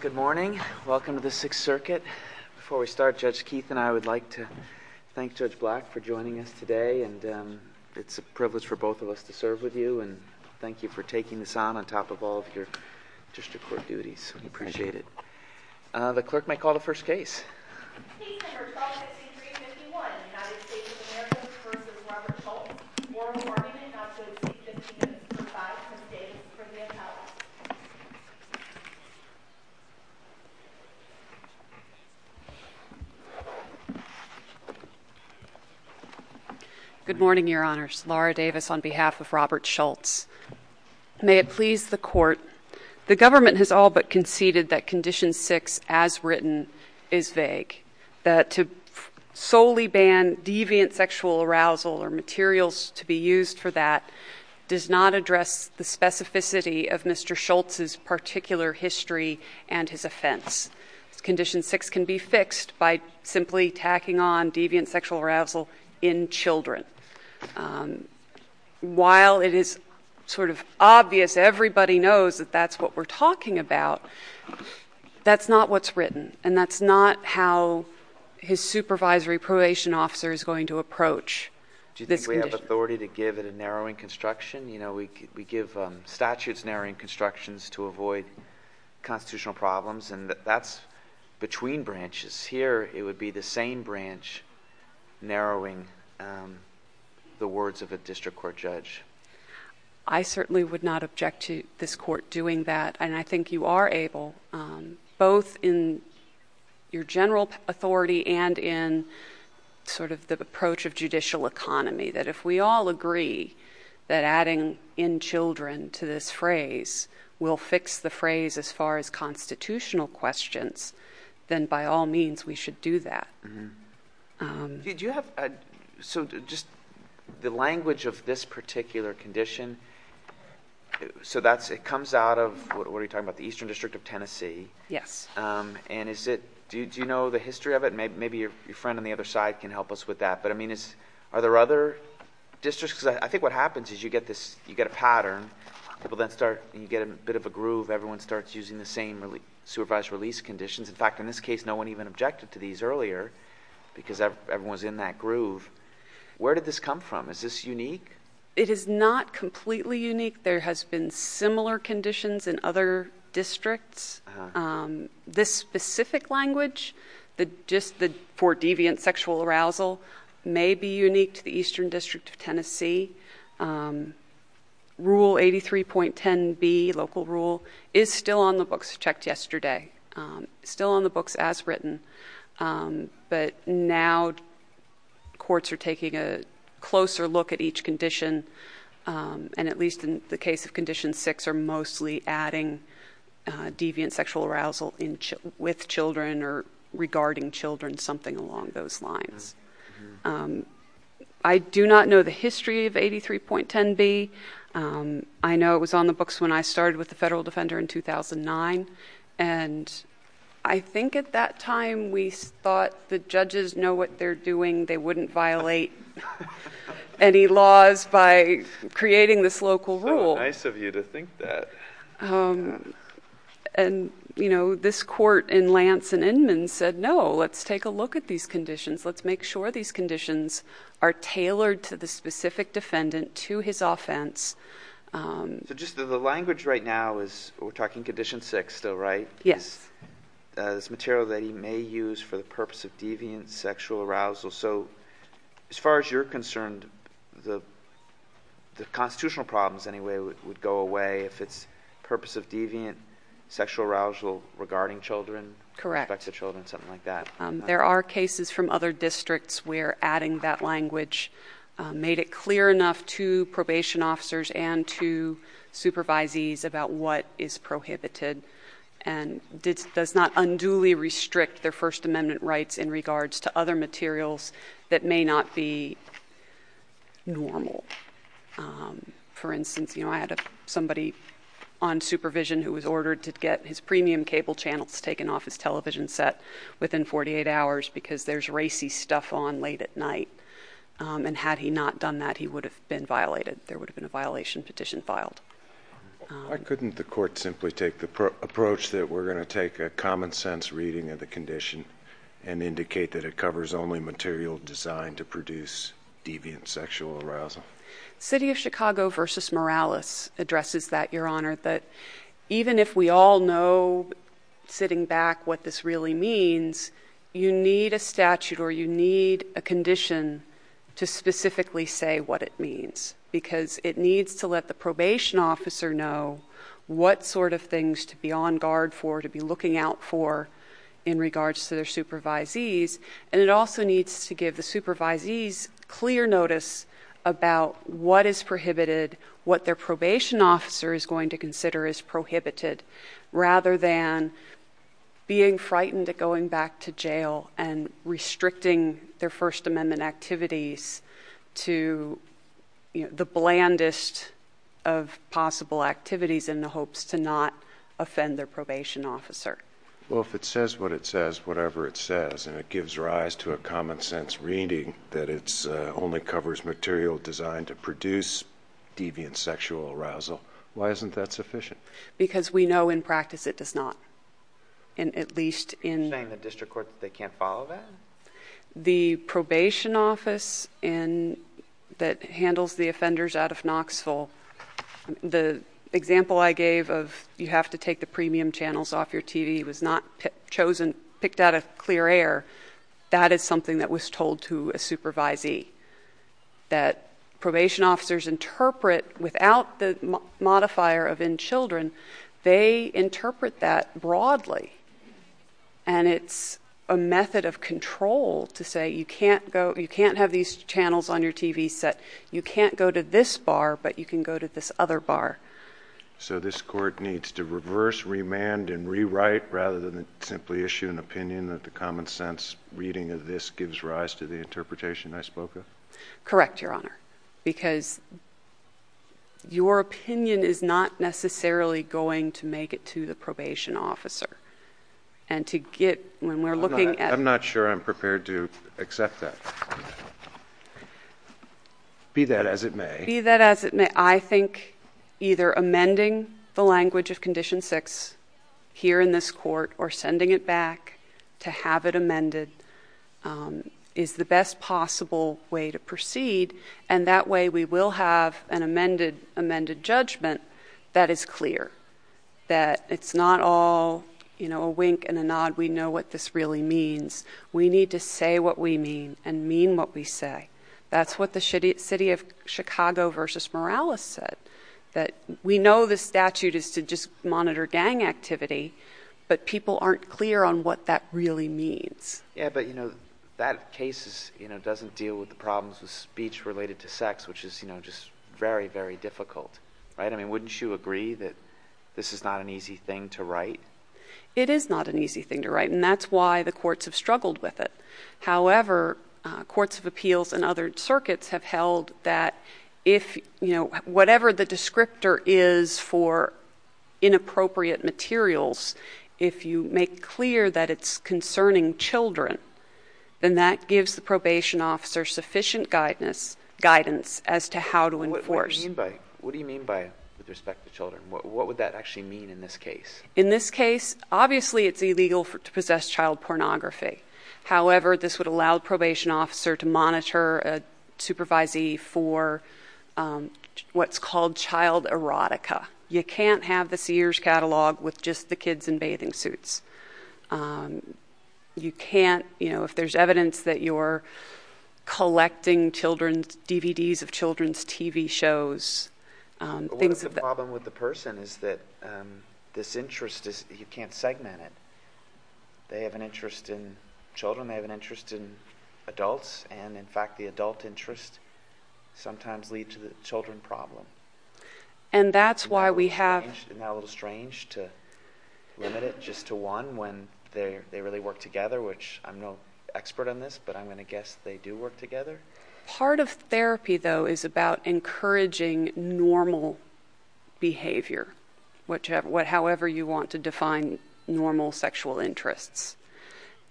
Good morning. Welcome to the 6th Circuit. Before we start, Judge Keith and I would like to thank Judge Black for joining us today. It's a privilege for both of us to serve with you and thank you for taking this on, on top of all of your district court duties. We appreciate that. Good morning, Your Honors. Laura Davis on behalf of Robert Shultz. May it please the Court, the government has all but conceded that Condition 6, as written, is vague, that to solely ban deviant sexual arousal or materials to be used for that does not address the specificity of Mr. Shultz's particular history and his offense. Condition 6 can be fixed by simply tacking on deviant sexual arousal in children. While it is sort of obvious, everybody knows that that's what we're talking about, that's not what's written and that's not how his supervisory probation officer is going to approach this condition. I certainly would not object to this Court doing that, and I think you are able, both in your general authority and in sort of the approach of judicial economy, that if we all agree that adding in children to this phrase will fix the phrase as far as constitutional questions, then by all means we should do that. Did you have, so just the language of this particular condition, so that's, it comes out of, what are you talking about, the Eastern District of Tennessee? Yes. And is it, do you know the history of it? Maybe your friend on the other side can help us with that, but I mean, are there other districts, because I think what happens is you get this, you get a pattern, people then start, you get a bit of a groove, everyone starts using the same supervised release conditions. In fact, in this case, no one even objected to these earlier, because everyone's in that groove. Where did this come from? Is this unique? It is not completely unique. There has been similar conditions in other districts. This specific language, just for deviant sexual arousal, may be unique to the Eastern District of Tennessee. Rule 83.10b, local rule, is still on the books, checked yesterday, still on the books as written, but now courts are taking a closer look at each condition, and at least in the case of Condition 6, are mostly adding deviant sexual arousal with children or regarding children, something along those lines. I do not know the history of 83.10b. I know it was on the books when I started with the Federal Defender in 2009, and I think at that time we thought the judges know what they're doing, they wouldn't violate any laws by creating this local rule. So nice of you to think that. This court in Lance and Inman said, no, let's take a look at these conditions, let's make sure these conditions are tailored to the specific defendant, to his offense. The language right now is, we're talking Condition 6 still, right? Yes. This material that he may use for the purpose of deviant sexual arousal. So, as far as you're concerned, the constitutional problems anyway would go away if it's purpose of deviant sexual arousal regarding children? Correct. Respect to children, something like that? There are cases from other districts where adding that language made it clear enough to probation officers and to supervisees about what is prohibited and does not unduly restrict their First Amendment rights in regards to other materials that may not be normal. For instance, I had somebody on supervision who was ordered to get his premium cable channels taken off his television set within 48 hours because there's racy stuff on late at night, and had he not done that, he would have been violated. There would have been a violation petition filed. Why couldn't the court simply take the approach that we're going to take a common sense reading of the condition and indicate that it covers only material designed to produce deviant sexual arousal? City of Chicago v. Morales addresses that, Your Honor, that even if we all know sitting back what this really means, you need a statute or you need a condition to specifically say what it means because it needs to let the probation officer know what sort of things to be on guard for, to be looking out for in regards to their supervisees, and it also needs to give the supervisees clear notice about what is prohibited, what their probation officer is going to consider as prohibited, rather than being frightened of going back to jail and restricting their First Amendment activities to the blandest of possible activities in the hopes to not offend their probation officer. Well, if it says what it says, whatever it says, and it gives rise to a common sense reading that it only covers material designed to produce deviant sexual arousal, why isn't that sufficient? Because we know in practice it does not, and at least in... You're saying the district court, they can't follow that? The probation office that handles the offenders out of Knoxville, the example I gave of you have to take the premium channels off your TV was not chosen, picked out of clear air. That is something that was told to a supervisee, that probation officers interpret without the modifier of in children, they interpret that broadly, and it's a method of control to say you can't have these channels on your TV set. You can't go to this bar, but you can go to this other bar. So this court needs to reverse, remand, and rewrite rather than simply issue an opinion that the common sense reading of this gives rise to the interpretation I spoke of? Correct, Your Honor, because your opinion is not necessarily going to make it to the probation officer, and to get... When we're looking at... I'm not sure I'm prepared to accept that. Be that as it may. Be that as it may. I think either amending the language of Condition 6 here in this court or sending it back to have it amended is the best possible way to proceed, and that way we will have an amended judgment that is clear, that it's not all a wink and a nod. We know what this really means. We need to say what we mean and mean what we say. That's what the city of Chicago versus Morales said, that we know the statute is to just Yeah, but that case doesn't deal with the problems with speech related to sex, which is just very, very difficult, right? I mean, wouldn't you agree that this is not an easy thing to write? It is not an easy thing to write, and that's why the courts have struggled with it. However, courts of appeals and other circuits have held that if... Whatever the descriptor is for inappropriate materials, if you make clear that it's concerning children, then that gives the probation officer sufficient guidance as to how to enforce. What do you mean by, with respect to children? What would that actually mean in this case? In this case, obviously it's illegal to possess child pornography. However, this would allow the probation officer to monitor a supervisee for what's called child erotica. You can't have the Sears catalog with just the kids in bathing suits. You can't... If there's evidence that you're collecting DVDs of children's TV shows, things What is the problem with the person is that this interest is... You can't segment it. They have an interest in children, they have an interest in adults, and in fact, the adult interest sometimes leads to the children problem. That's why we have... Isn't that a little strange to limit it just to one when they really work together, which I'm no expert on this, but I'm going to guess they do work together? Part of therapy, though, is about encouraging normal behavior, however you want to define normal sexual interests,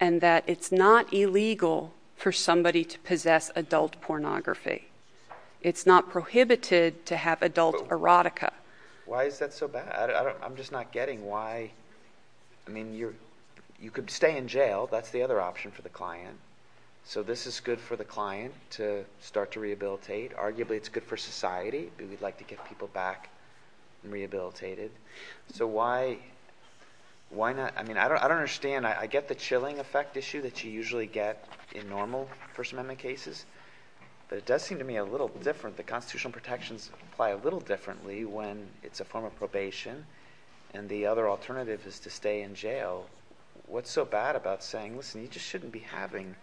and that it's not illegal for somebody to possess adult pornography. It's not prohibited to have adult erotica. Why is that so bad? I'm just not getting why... I mean, you could stay in jail. That's the other option for the client. This is good for the client to start to rehabilitate. Arguably, it's good for society, but we'd like to get people back rehabilitated. Why not... I mean, I don't understand. I get the chilling effect issue that you usually get in normal First Amendment cases, but it does seem to me a little different. The constitutional protections apply a little differently when it's a form of probation, and the other alternative is to stay in jail. What's so bad about saying, listen, you just shouldn't be having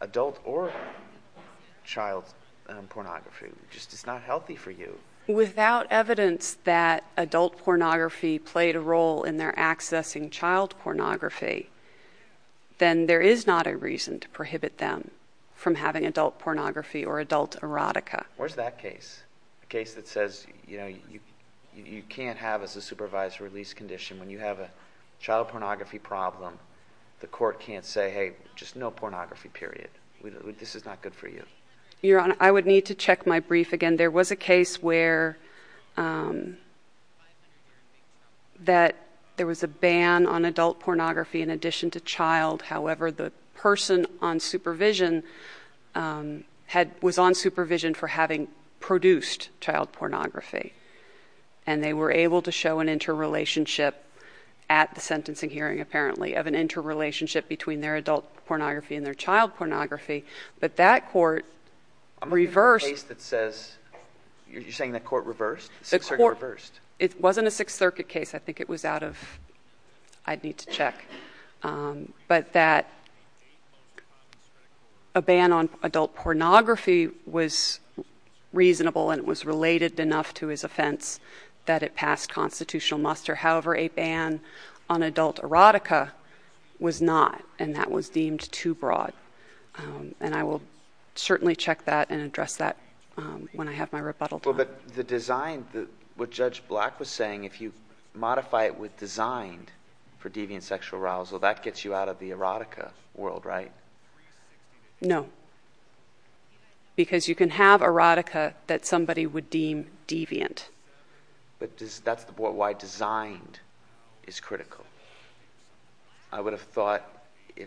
adult or child pornography? It's not healthy for you. Without evidence that adult pornography played a role in their accessing child pornography, then there is not a reason to prohibit them from having adult pornography or adult erotica. Where's that case? The case that says you can't have, as a supervisor, a release condition when you have a child pornography problem. The court can't say, hey, just no pornography, period. This is not good for you. Your Honor, I would need to check my brief again. There was a case where... that there was a ban on adult pornography in addition to child. However, the person on supervision was on supervision for having produced child pornography, and they were able to show an interrelationship at the sentencing hearing, apparently, of an interrelationship between their adult pornography and their child pornography, but that court reversed- Is there a case that says... you're saying the court reversed? The court reversed. It wasn't a Sixth Circuit case. I think it was out of... I'd need to check. But that a ban on adult pornography was reasonable and it was related enough to his offense that it passed constitutional muster. However, a ban on adult erotica was not, and that was deemed too broad. I will certainly check that and address that when I have my rebuttal time. The design... what Judge Black was saying, if you modify it with designed for deviant sexual arousal, that gets you out of the erotica world, right? No, because you can have erotica that somebody would deem deviant. That's why designed is critical. I would have thought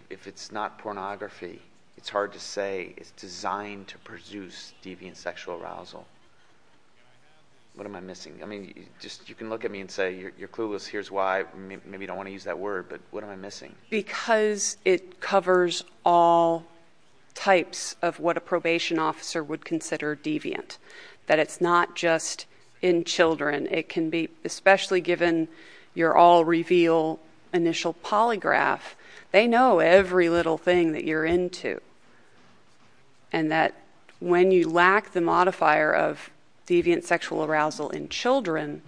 if it's not pornography, it's hard to say it's designed to produce deviant sexual arousal. What am I missing? You can look at me and say, you're clueless, here's why, maybe you don't want to use that word, but what am I missing? Because it covers all types of what a probation officer would consider deviant. That it's not just in children. It can be, especially given you're all reveal initial polygraph, they know every little thing that you're into. And that when you lack the modifier of deviant sexual arousal in children,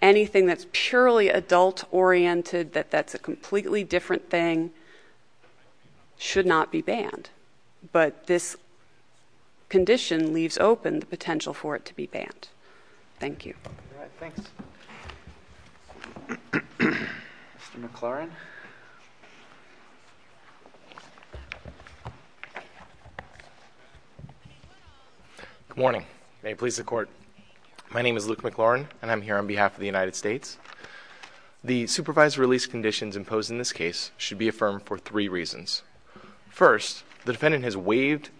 anything that's purely adult oriented, that that's a completely different thing, should not be banned. But this condition leaves open the potential for it to be banned. Thank you. All right. Thanks. Mr. McLaurin. Good morning. May it please the court. My name is Luke McLaurin, and I'm here on behalf of the United States. The supervised release conditions imposed in this case should be affirmed for three reasons. First, the defendant has waived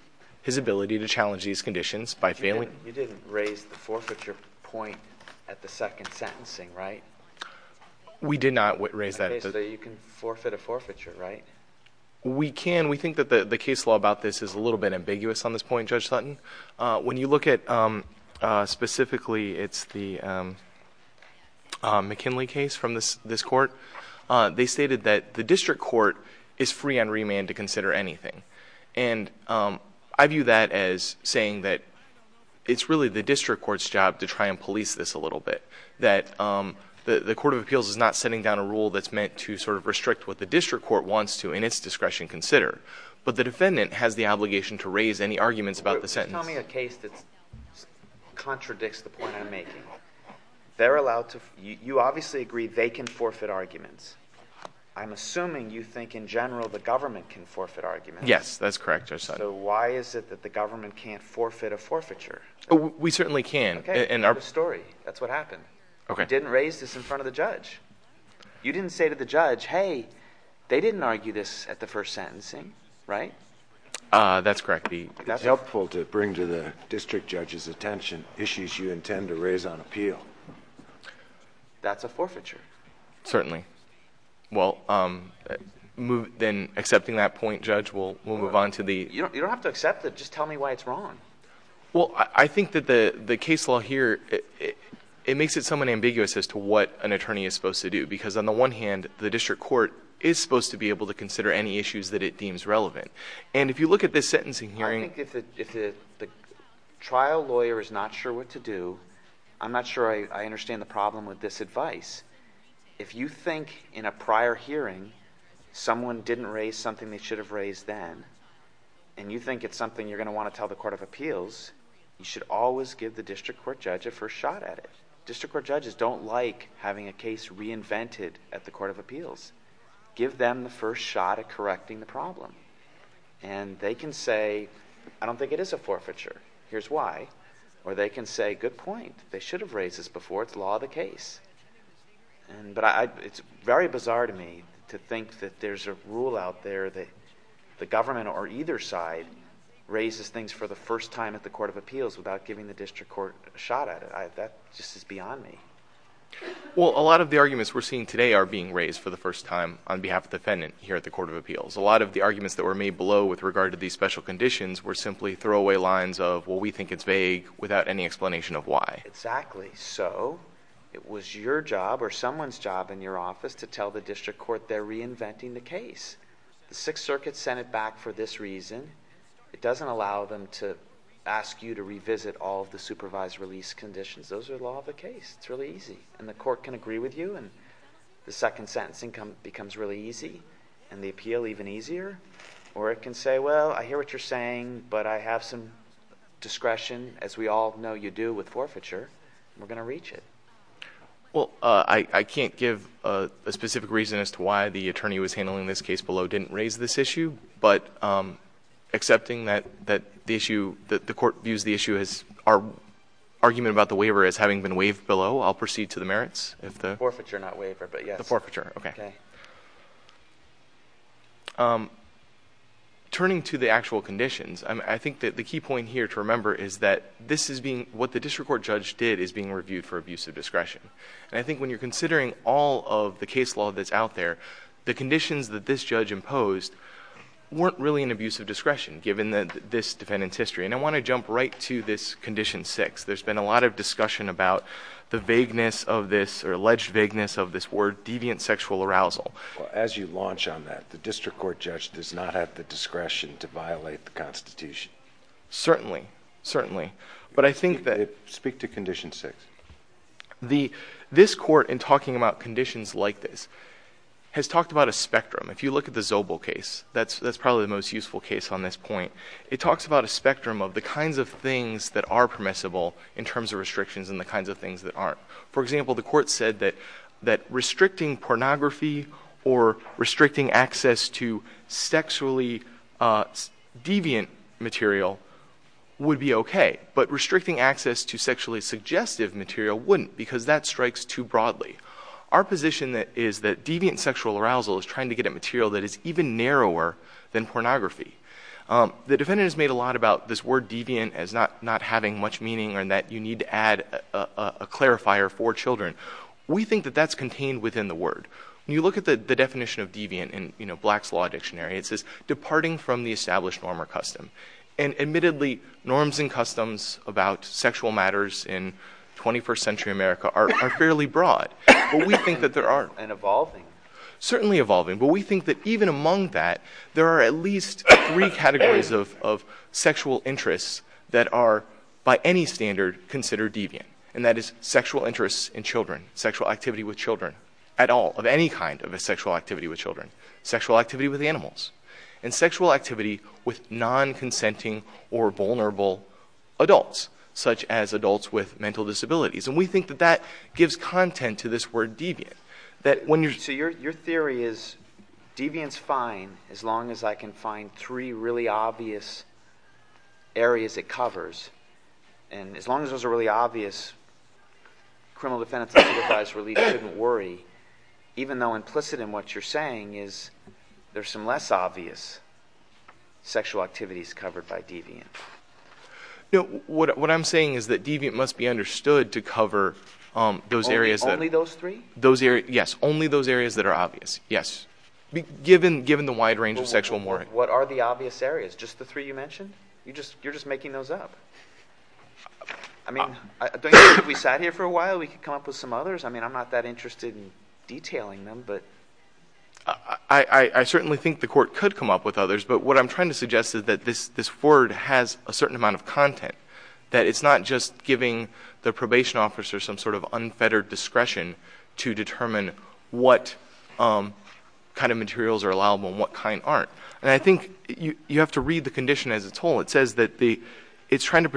his ability to challenge these conditions by failing- You didn't raise the forfeiture point at the second sentencing, right? We did not raise that. Okay, so you can forfeit a forfeiture, right? We can. We think that the case law about this is a little bit ambiguous on this point, Judge Sutton. When you look at specifically, it's the McKinley case from this court, they stated that the district court is free on remand to consider anything. And I view that as saying that it's really the district court's job to try and police this a little bit. That the court of appeals is not setting down a rule that's meant to sort of restrict what the district court wants to, in its discretion, consider. But the defendant has the obligation to raise any arguments about the sentence. Tell me a case that contradicts the point I'm making. They're allowed to- You obviously agree they can forfeit arguments. I'm assuming you think in general the government can forfeit arguments. Yes. That's correct, Judge Sutton. Why is it that the government can't forfeit a forfeiture? We certainly can. Okay. We have a story. That's what happened. Okay. You didn't raise this in front of the judge. You didn't say to the judge, hey, they didn't argue this at the first sentencing, right? That's correct. It's helpful to bring to the district judge's attention issues you intend to raise on appeal. That's a forfeiture. Certainly. Okay. Well, then accepting that point, Judge, we'll move on to the- You don't have to accept it. Just tell me why it's wrong. Well, I think that the case law here, it makes it somewhat ambiguous as to what an attorney is supposed to do because on the one hand, the district court is supposed to be able to consider any issues that it deems relevant. If you look at this sentencing hearing- I think if the trial lawyer is not sure what to do, I'm not sure I understand the problem with this advice. If you think in a prior hearing someone didn't raise something they should have raised then and you think it's something you're going to want to tell the Court of Appeals, you should always give the district court judge a first shot at it. District court judges don't like having a case reinvented at the Court of Appeals. Give them the first shot at correcting the problem and they can say, I don't think it is a forfeiture. Here's why. Here's why. Or they can say, good point. They should have raised this before. It's law of the case. It's very bizarre to me to think that there's a rule out there that the government or either side raises things for the first time at the Court of Appeals without giving the district court a shot at it. That just is beyond me. Well, a lot of the arguments we're seeing today are being raised for the first time on behalf of the defendant here at the Court of Appeals. A lot of the arguments that were made below with regard to these special conditions were simply throwaway lines of, well, we think it's vague without any explanation of why. Exactly. So, it was your job or someone's job in your office to tell the district court they're reinventing the case. The Sixth Circuit sent it back for this reason. It doesn't allow them to ask you to revisit all of the supervised release conditions. Those are law of the case. It's really easy. And the court can agree with you and the second sentence becomes really easy and the appeal even easier. Or it can say, well, I hear what you're saying, but I have some discretion, as we all know you do with forfeiture, and we're going to reach it. Well, I can't give a specific reason as to why the attorney who was handling this case below didn't raise this issue. But accepting that the issue, that the court views the issue as, our argument about the waiver as having been waived below, I'll proceed to the merits if the... Forfeiture, not waiver, but yes. The forfeiture. Okay. Turning to the actual conditions, I think that the key point here to remember is that this is being, what the district court judge did is being reviewed for abuse of discretion. And I think when you're considering all of the case law that's out there, the conditions that this judge imposed weren't really an abuse of discretion given this defendant's history. And I want to jump right to this condition six. There's been a lot of discussion about the vagueness of this, or alleged vagueness of this word, deviant sexual arousal. As you launch on that, the district court judge does not have the discretion to violate the constitution. Certainly. Certainly. But I think that... Speak to condition six. This court, in talking about conditions like this, has talked about a spectrum. If you look at the Zobel case, that's probably the most useful case on this point. It talks about a spectrum of the kinds of things that are permissible in terms of restrictions and the kinds of things that aren't. For example, the court said that restricting pornography or restricting access to sexually deviant material would be okay. But restricting access to sexually suggestive material wouldn't, because that strikes too broadly. Our position is that deviant sexual arousal is trying to get at material that is even narrower than pornography. The defendant has made a lot about this word deviant as not having much meaning and that you need to add a clarifier for children. We think that that's contained within the word. When you look at the definition of deviant in Black's Law Dictionary, it says, departing from the established norm or custom. And admittedly, norms and customs about sexual matters in 21st century America are fairly broad. But we think that there are... And evolving. Certainly evolving. But we think that even among that, there are at least three categories of sexual interests that are, by any standard, considered deviant. And that is sexual interests in children, sexual activity with children at all, of any kind of a sexual activity with children. Sexual activity with animals. And sexual activity with non-consenting or vulnerable adults, such as adults with mental disabilities. And we think that that gives content to this word deviant. That when you're... As long as it covers, and as long as those are really obvious, criminal defendants and supervised relief shouldn't worry. Even though implicit in what you're saying is there's some less obvious sexual activities covered by deviant. What I'm saying is that deviant must be understood to cover those areas that... Only those three? Those areas... Yes. Only those areas that are obvious. Yes. Given the wide range of sexual... What are the obvious areas? Just the three you mentioned? You're just making those up. I mean, don't you think if we sat here for a while, we could come up with some others? I mean, I'm not that interested in detailing them, but... I certainly think the court could come up with others. But what I'm trying to suggest is that this word has a certain amount of content. That it's not just giving the probation officer some sort of unfettered discretion to determine what kind of materials are allowable and what kind aren't. I think you have to read the condition as a whole. It says that it's trying to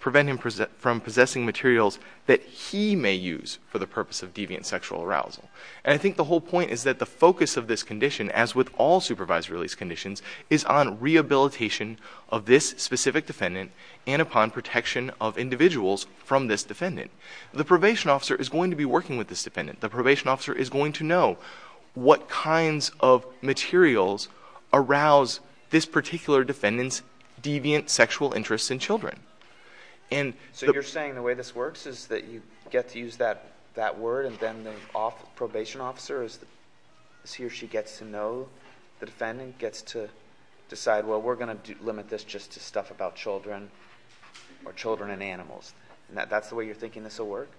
prevent him from possessing materials that he may use for the purpose of deviant sexual arousal. I think the whole point is that the focus of this condition, as with all supervised release conditions, is on rehabilitation of this specific defendant and upon protection of individuals from this defendant. The probation officer is going to be working with this defendant. The probation officer is going to know what kinds of materials arouse this particular defendant's deviant sexual interest in children. So you're saying the way this works is that you get to use that word and then the probation officer, as he or she gets to know the defendant, gets to decide, well, we're going to limit this just to stuff about children or children and animals. That's the way you're thinking this will work?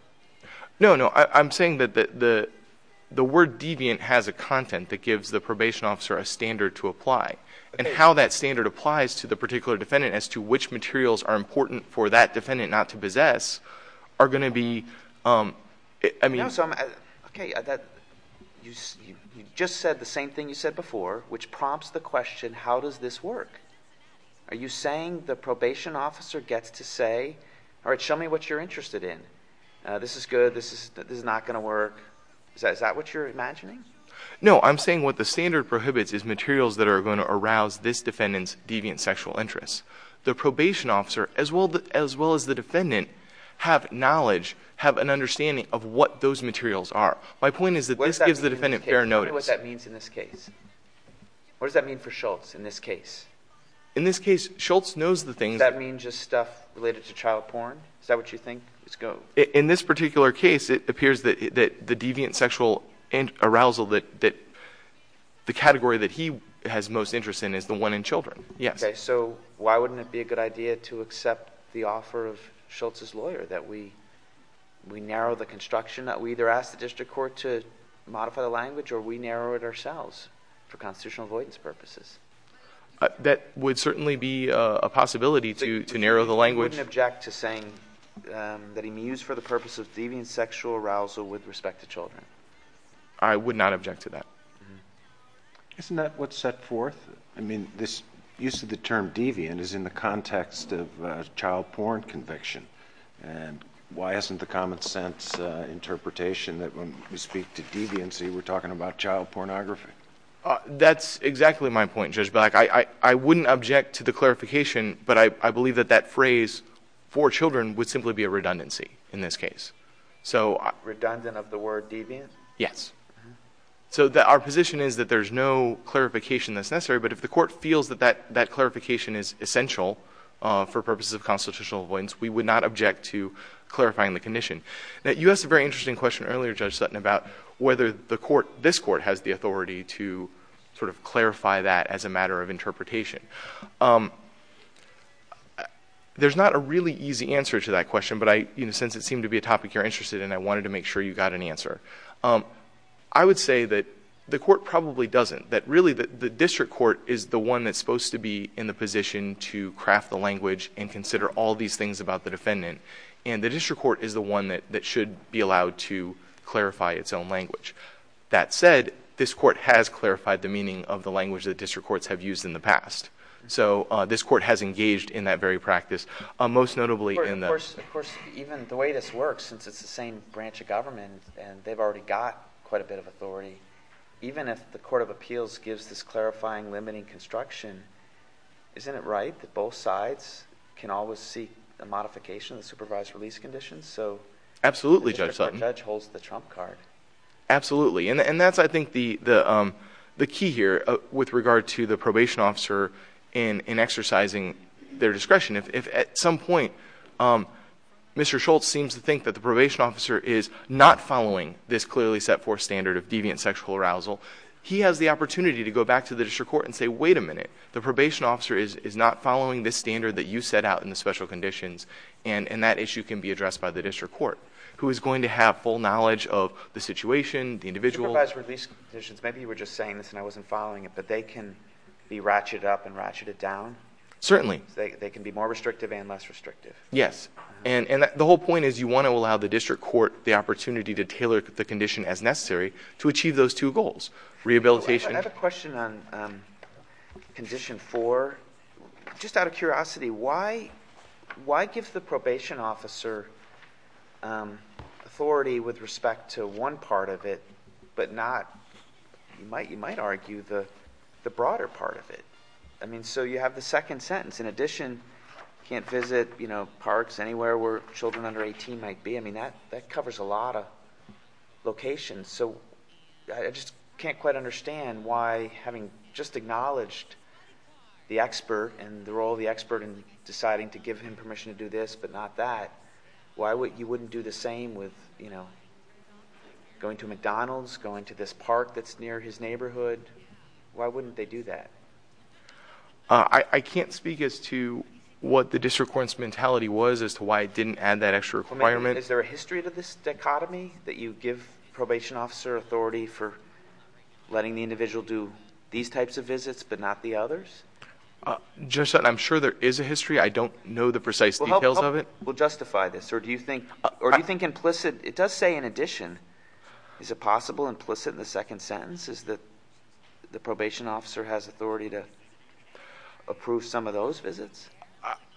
No, no. I'm saying that the word deviant has a content that gives the probation officer a standard to apply. Okay. How that standard applies to the particular defendant as to which materials are important for that defendant not to possess are going to be... You just said the same thing you said before, which prompts the question, how does this work? Are you saying the probation officer gets to say, all right, show me what you're interested in. This is good. This is not going to work. Is that what you're imagining? No. I'm saying what the standard prohibits is materials that are going to arouse this defendant's deviant sexual interest. The probation officer, as well as the defendant, have knowledge, have an understanding of what those materials are. My point is that this gives the defendant fair notice. What does that mean for Schultz in this case? In this case, Schultz knows the things... Does that mean just stuff related to child porn? Is that what you think? In this particular case, it appears that the deviant sexual arousal that... the category that he has most interest in is the one in children. Yes. Why wouldn't it be a good idea to accept the offer of Schultz's lawyer that we narrow the construction that we either ask the district court to modify the language or we narrow it ourselves for constitutional avoidance purposes? That would certainly be a possibility to narrow the language. I wouldn't object to saying that he mused for the purpose of deviant sexual arousal with respect to children. I would not object to that. Isn't that what's set forth? This use of the term deviant is in the context of a child porn conviction. Why isn't the common sense interpretation that when we speak to deviancy, we're talking about child pornography? That's exactly my point, Judge Black. I wouldn't object to the clarification, but I believe that that phrase for children would simply be a redundancy in this case. Redundant of the word deviant? Yes. Our position is that there's no clarification that's necessary, but if the court feels that that clarification is essential for purposes of constitutional avoidance, we would not object to clarifying the condition. You asked a very interesting question earlier, Judge Sutton, about whether this court has the authority to clarify that as a matter of interpretation. There's not a really easy answer to that question, but since it seemed to be a topic you're interested in, I wanted to make sure you got an answer. I would say that the court probably doesn't, that really the district court is the one that's supposed to be in the position to craft the language and consider all these things about the defendant, and the district court is the one that should be allowed to clarify its own language. That said, this court has clarified the meaning of the language that district courts have used in the past, so this court has engaged in that very practice. Most notably in the- Of course, even the way this works, since it's the same branch of government and they've already got quite a bit of authority, even if the Court of Appeals gives this clarifying limiting construction, isn't it right that both sides can always seek a modification of the supervised release conditions, so- Absolutely, Judge Sutton. The judge holds the trump card. Absolutely, and that's I think the key here with regard to the probation officer in exercising their discretion. If at some point Mr. Schultz seems to think that the probation officer is not following this clearly set forth standard of deviant sexual arousal, he has the opportunity to go back to the district court and say, wait a minute, the probation officer is not following this standard that you set out in the special conditions, and that issue can be addressed by the district court, who is going to have full knowledge of the situation, the individual- Supervised release conditions, maybe you were just saying this and I wasn't following it, but they can be ratcheted up and ratcheted down? Certainly. They can be more restrictive and less restrictive? Yes, and the whole point is you want to allow the district court the opportunity to tailor the condition as necessary to achieve those two goals, rehabilitation- I have a question on condition four. Just out of curiosity, why give the probation officer authority with respect to one part of it, but not, you might argue, the broader part of it? So you have the second sentence, in addition, can't visit parks anywhere where children under 18 might be, that covers a lot of locations. So I just can't quite understand why, having just acknowledged the expert and the role of the expert in deciding to give him permission to do this, but not that, why you wouldn't do the same with going to McDonald's, going to this park that's near his neighborhood? Why wouldn't they do that? I can't speak as to what the district court's mentality was as to why it didn't add that extra requirement. Is there a history to this dichotomy, that you give probation officer authority for letting the individual do these types of visits, but not the others? Judge Sutton, I'm sure there is a history. I don't know the precise details of it. Well justify this. Or do you think implicit, it does say in addition, is it possible implicit in the second sentence is that the probation officer has authority to approve some of those visits?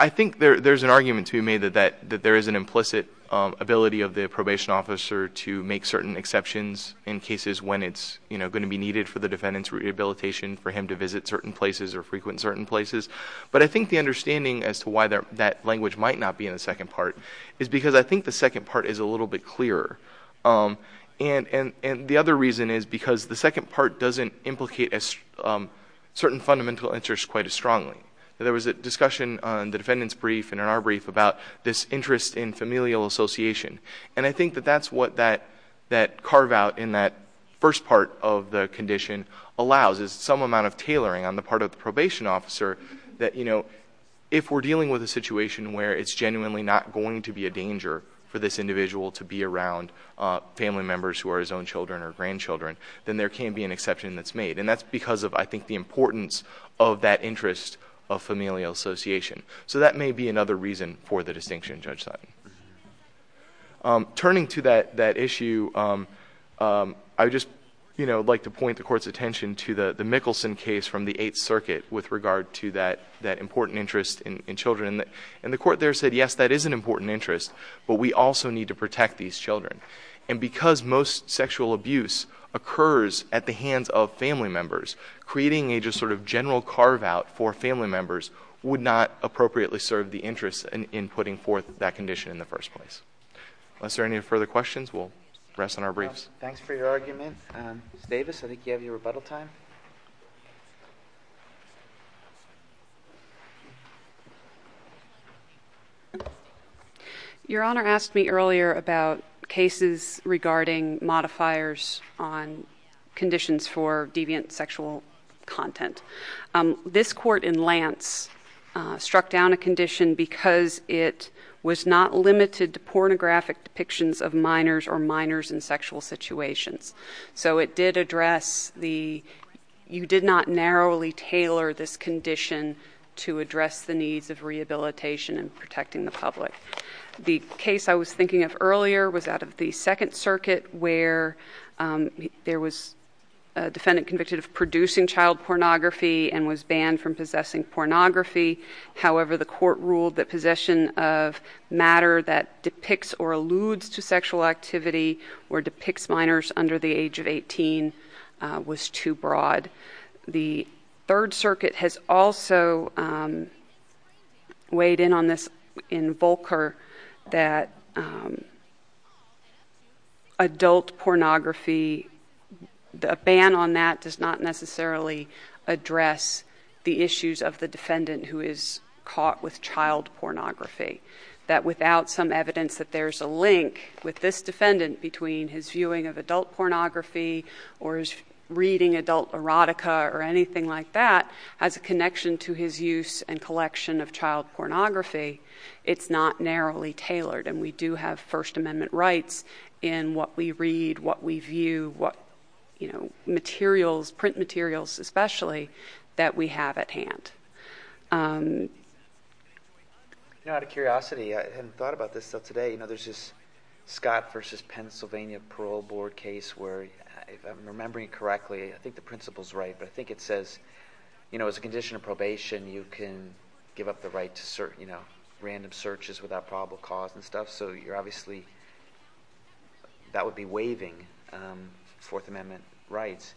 I think there's an argument to be made that there is an implicit ability of the probation officer to make certain exceptions in cases when it's going to be needed for the defendant's rehabilitation for him to visit certain places or frequent certain places. But I think the understanding as to why that language might not be in the second part is because I think the second part is a little bit clearer. And the other reason is because the second part doesn't implicate certain fundamental interests quite as strongly. There was a discussion on the defendant's brief and in our brief about this interest in familial association. And I think that that's what that carve out in that first part of the condition allows is some amount of tailoring on the part of the probation officer that, you know, if we're dealing with a situation where it's genuinely not going to be a danger for this individual to be around family members who are his own children or grandchildren, then there can be an exception that's made. And that's because of, I think, the importance of that interest of familial association. So that may be another reason for the distinction, Judge Sutton. Turning to that issue, I would just like to point the Court's attention to the Mickelson case from the Eighth Circuit with regard to that important interest in children. And the Court there said, yes, that is an important interest, but we also need to protect these children. And because most sexual abuse occurs at the hands of family members, creating a just sort of general carve out for family members would not appropriately serve the interest in putting forth that condition in the first place. Unless there are any further questions, we'll rest on our briefs. Thanks for your argument. Ms. Davis, I think you have your rebuttal time. Thank you. Your Honor asked me earlier about cases regarding modifiers on conditions for deviant sexual content. This court in Lance struck down a condition because it was not limited to pornographic depictions of minors or minors in sexual situations. So it did address the, you did not narrowly tailor this condition to address the needs of rehabilitation and protecting the public. The case I was thinking of earlier was out of the Second Circuit where there was a defendant convicted of producing child pornography and was banned from possessing pornography. However, the court ruled that possession of matter that depicts or alludes to sexual activity or depicts minors under the age of 18 was too broad. The Third Circuit has also weighed in on this in Volcker that adult pornography, a ban on that does not necessarily address the issues of the defendant who is caught with child pornography. That without some evidence that there's a link with this defendant between his viewing of adult pornography or his reading adult erotica or anything like that as a connection to his use and collection of child pornography, it's not narrowly tailored. And we do have First Amendment rights in what we read, what we view, what, you know, materials, print materials especially, that we have at hand. You know, out of curiosity, I hadn't thought about this till today, you know, there's this Scott versus Pennsylvania Parole Board case where if I'm remembering correctly, I think the principle's right, but I think it says, you know, as a condition of probation, you can give up the right to search, you know, random searches without probable cause and stuff so you're obviously, that would be waiving Fourth Amendment rights.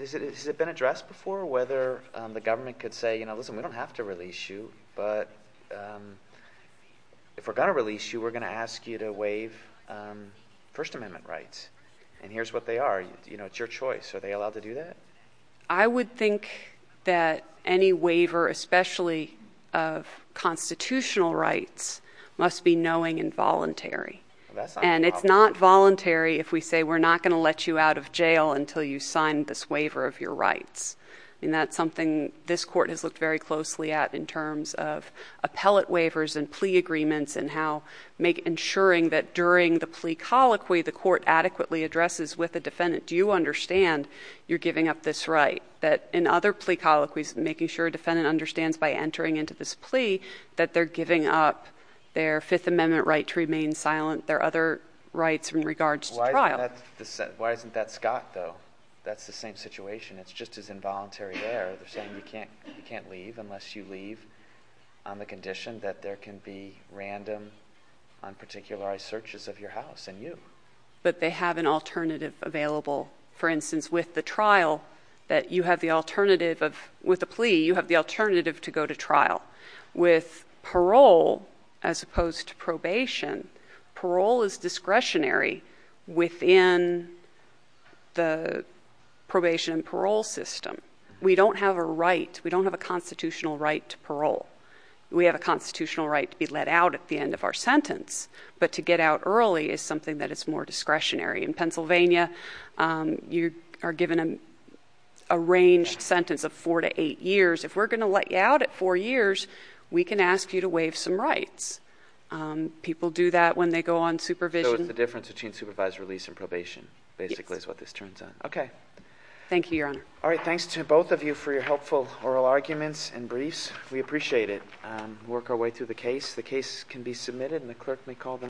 Has it been addressed before whether the government could say, you know, listen, we don't have to release you, but if we're going to release you, we're going to ask you to waive First Amendment rights. And here's what they are, you know, it's your choice, are they allowed to do that? I would think that any waiver, especially of constitutional rights, must be knowing and voluntary. And it's not voluntary if we say, we're not going to let you out of jail until you sign this waiver of your rights, and that's something this court has looked very closely at in terms of appellate waivers and plea agreements and how ensuring that during the plea colloquy the court adequately addresses with the defendant, do you understand you're giving up this right? That in other plea colloquies, making sure a defendant understands by entering into this their other rights in regards to trial. Why isn't that Scott though? That's the same situation, it's just as involuntary there, they're saying you can't leave unless you leave on the condition that there can be random unparticularized searches of your house and you. But they have an alternative available, for instance, with the trial, that you have the alternative of, with a plea, you have the alternative to go to trial. With parole, as opposed to probation, parole is discretionary within the probation and parole system. We don't have a right, we don't have a constitutional right to parole. We have a constitutional right to be let out at the end of our sentence, but to get out early is something that is more discretionary. In Pennsylvania, you are given an arranged sentence of four to eight years, if we're going to let you out at four years, we can ask you to waive some rights. People do that when they go on supervision. So it's the difference between supervised release and probation, basically is what this turns on. Okay. Thank you, your honor. All right, thanks to both of you for your helpful oral arguments and briefs. We appreciate it. Work our way through the case. The case can be submitted and the clerk may call them.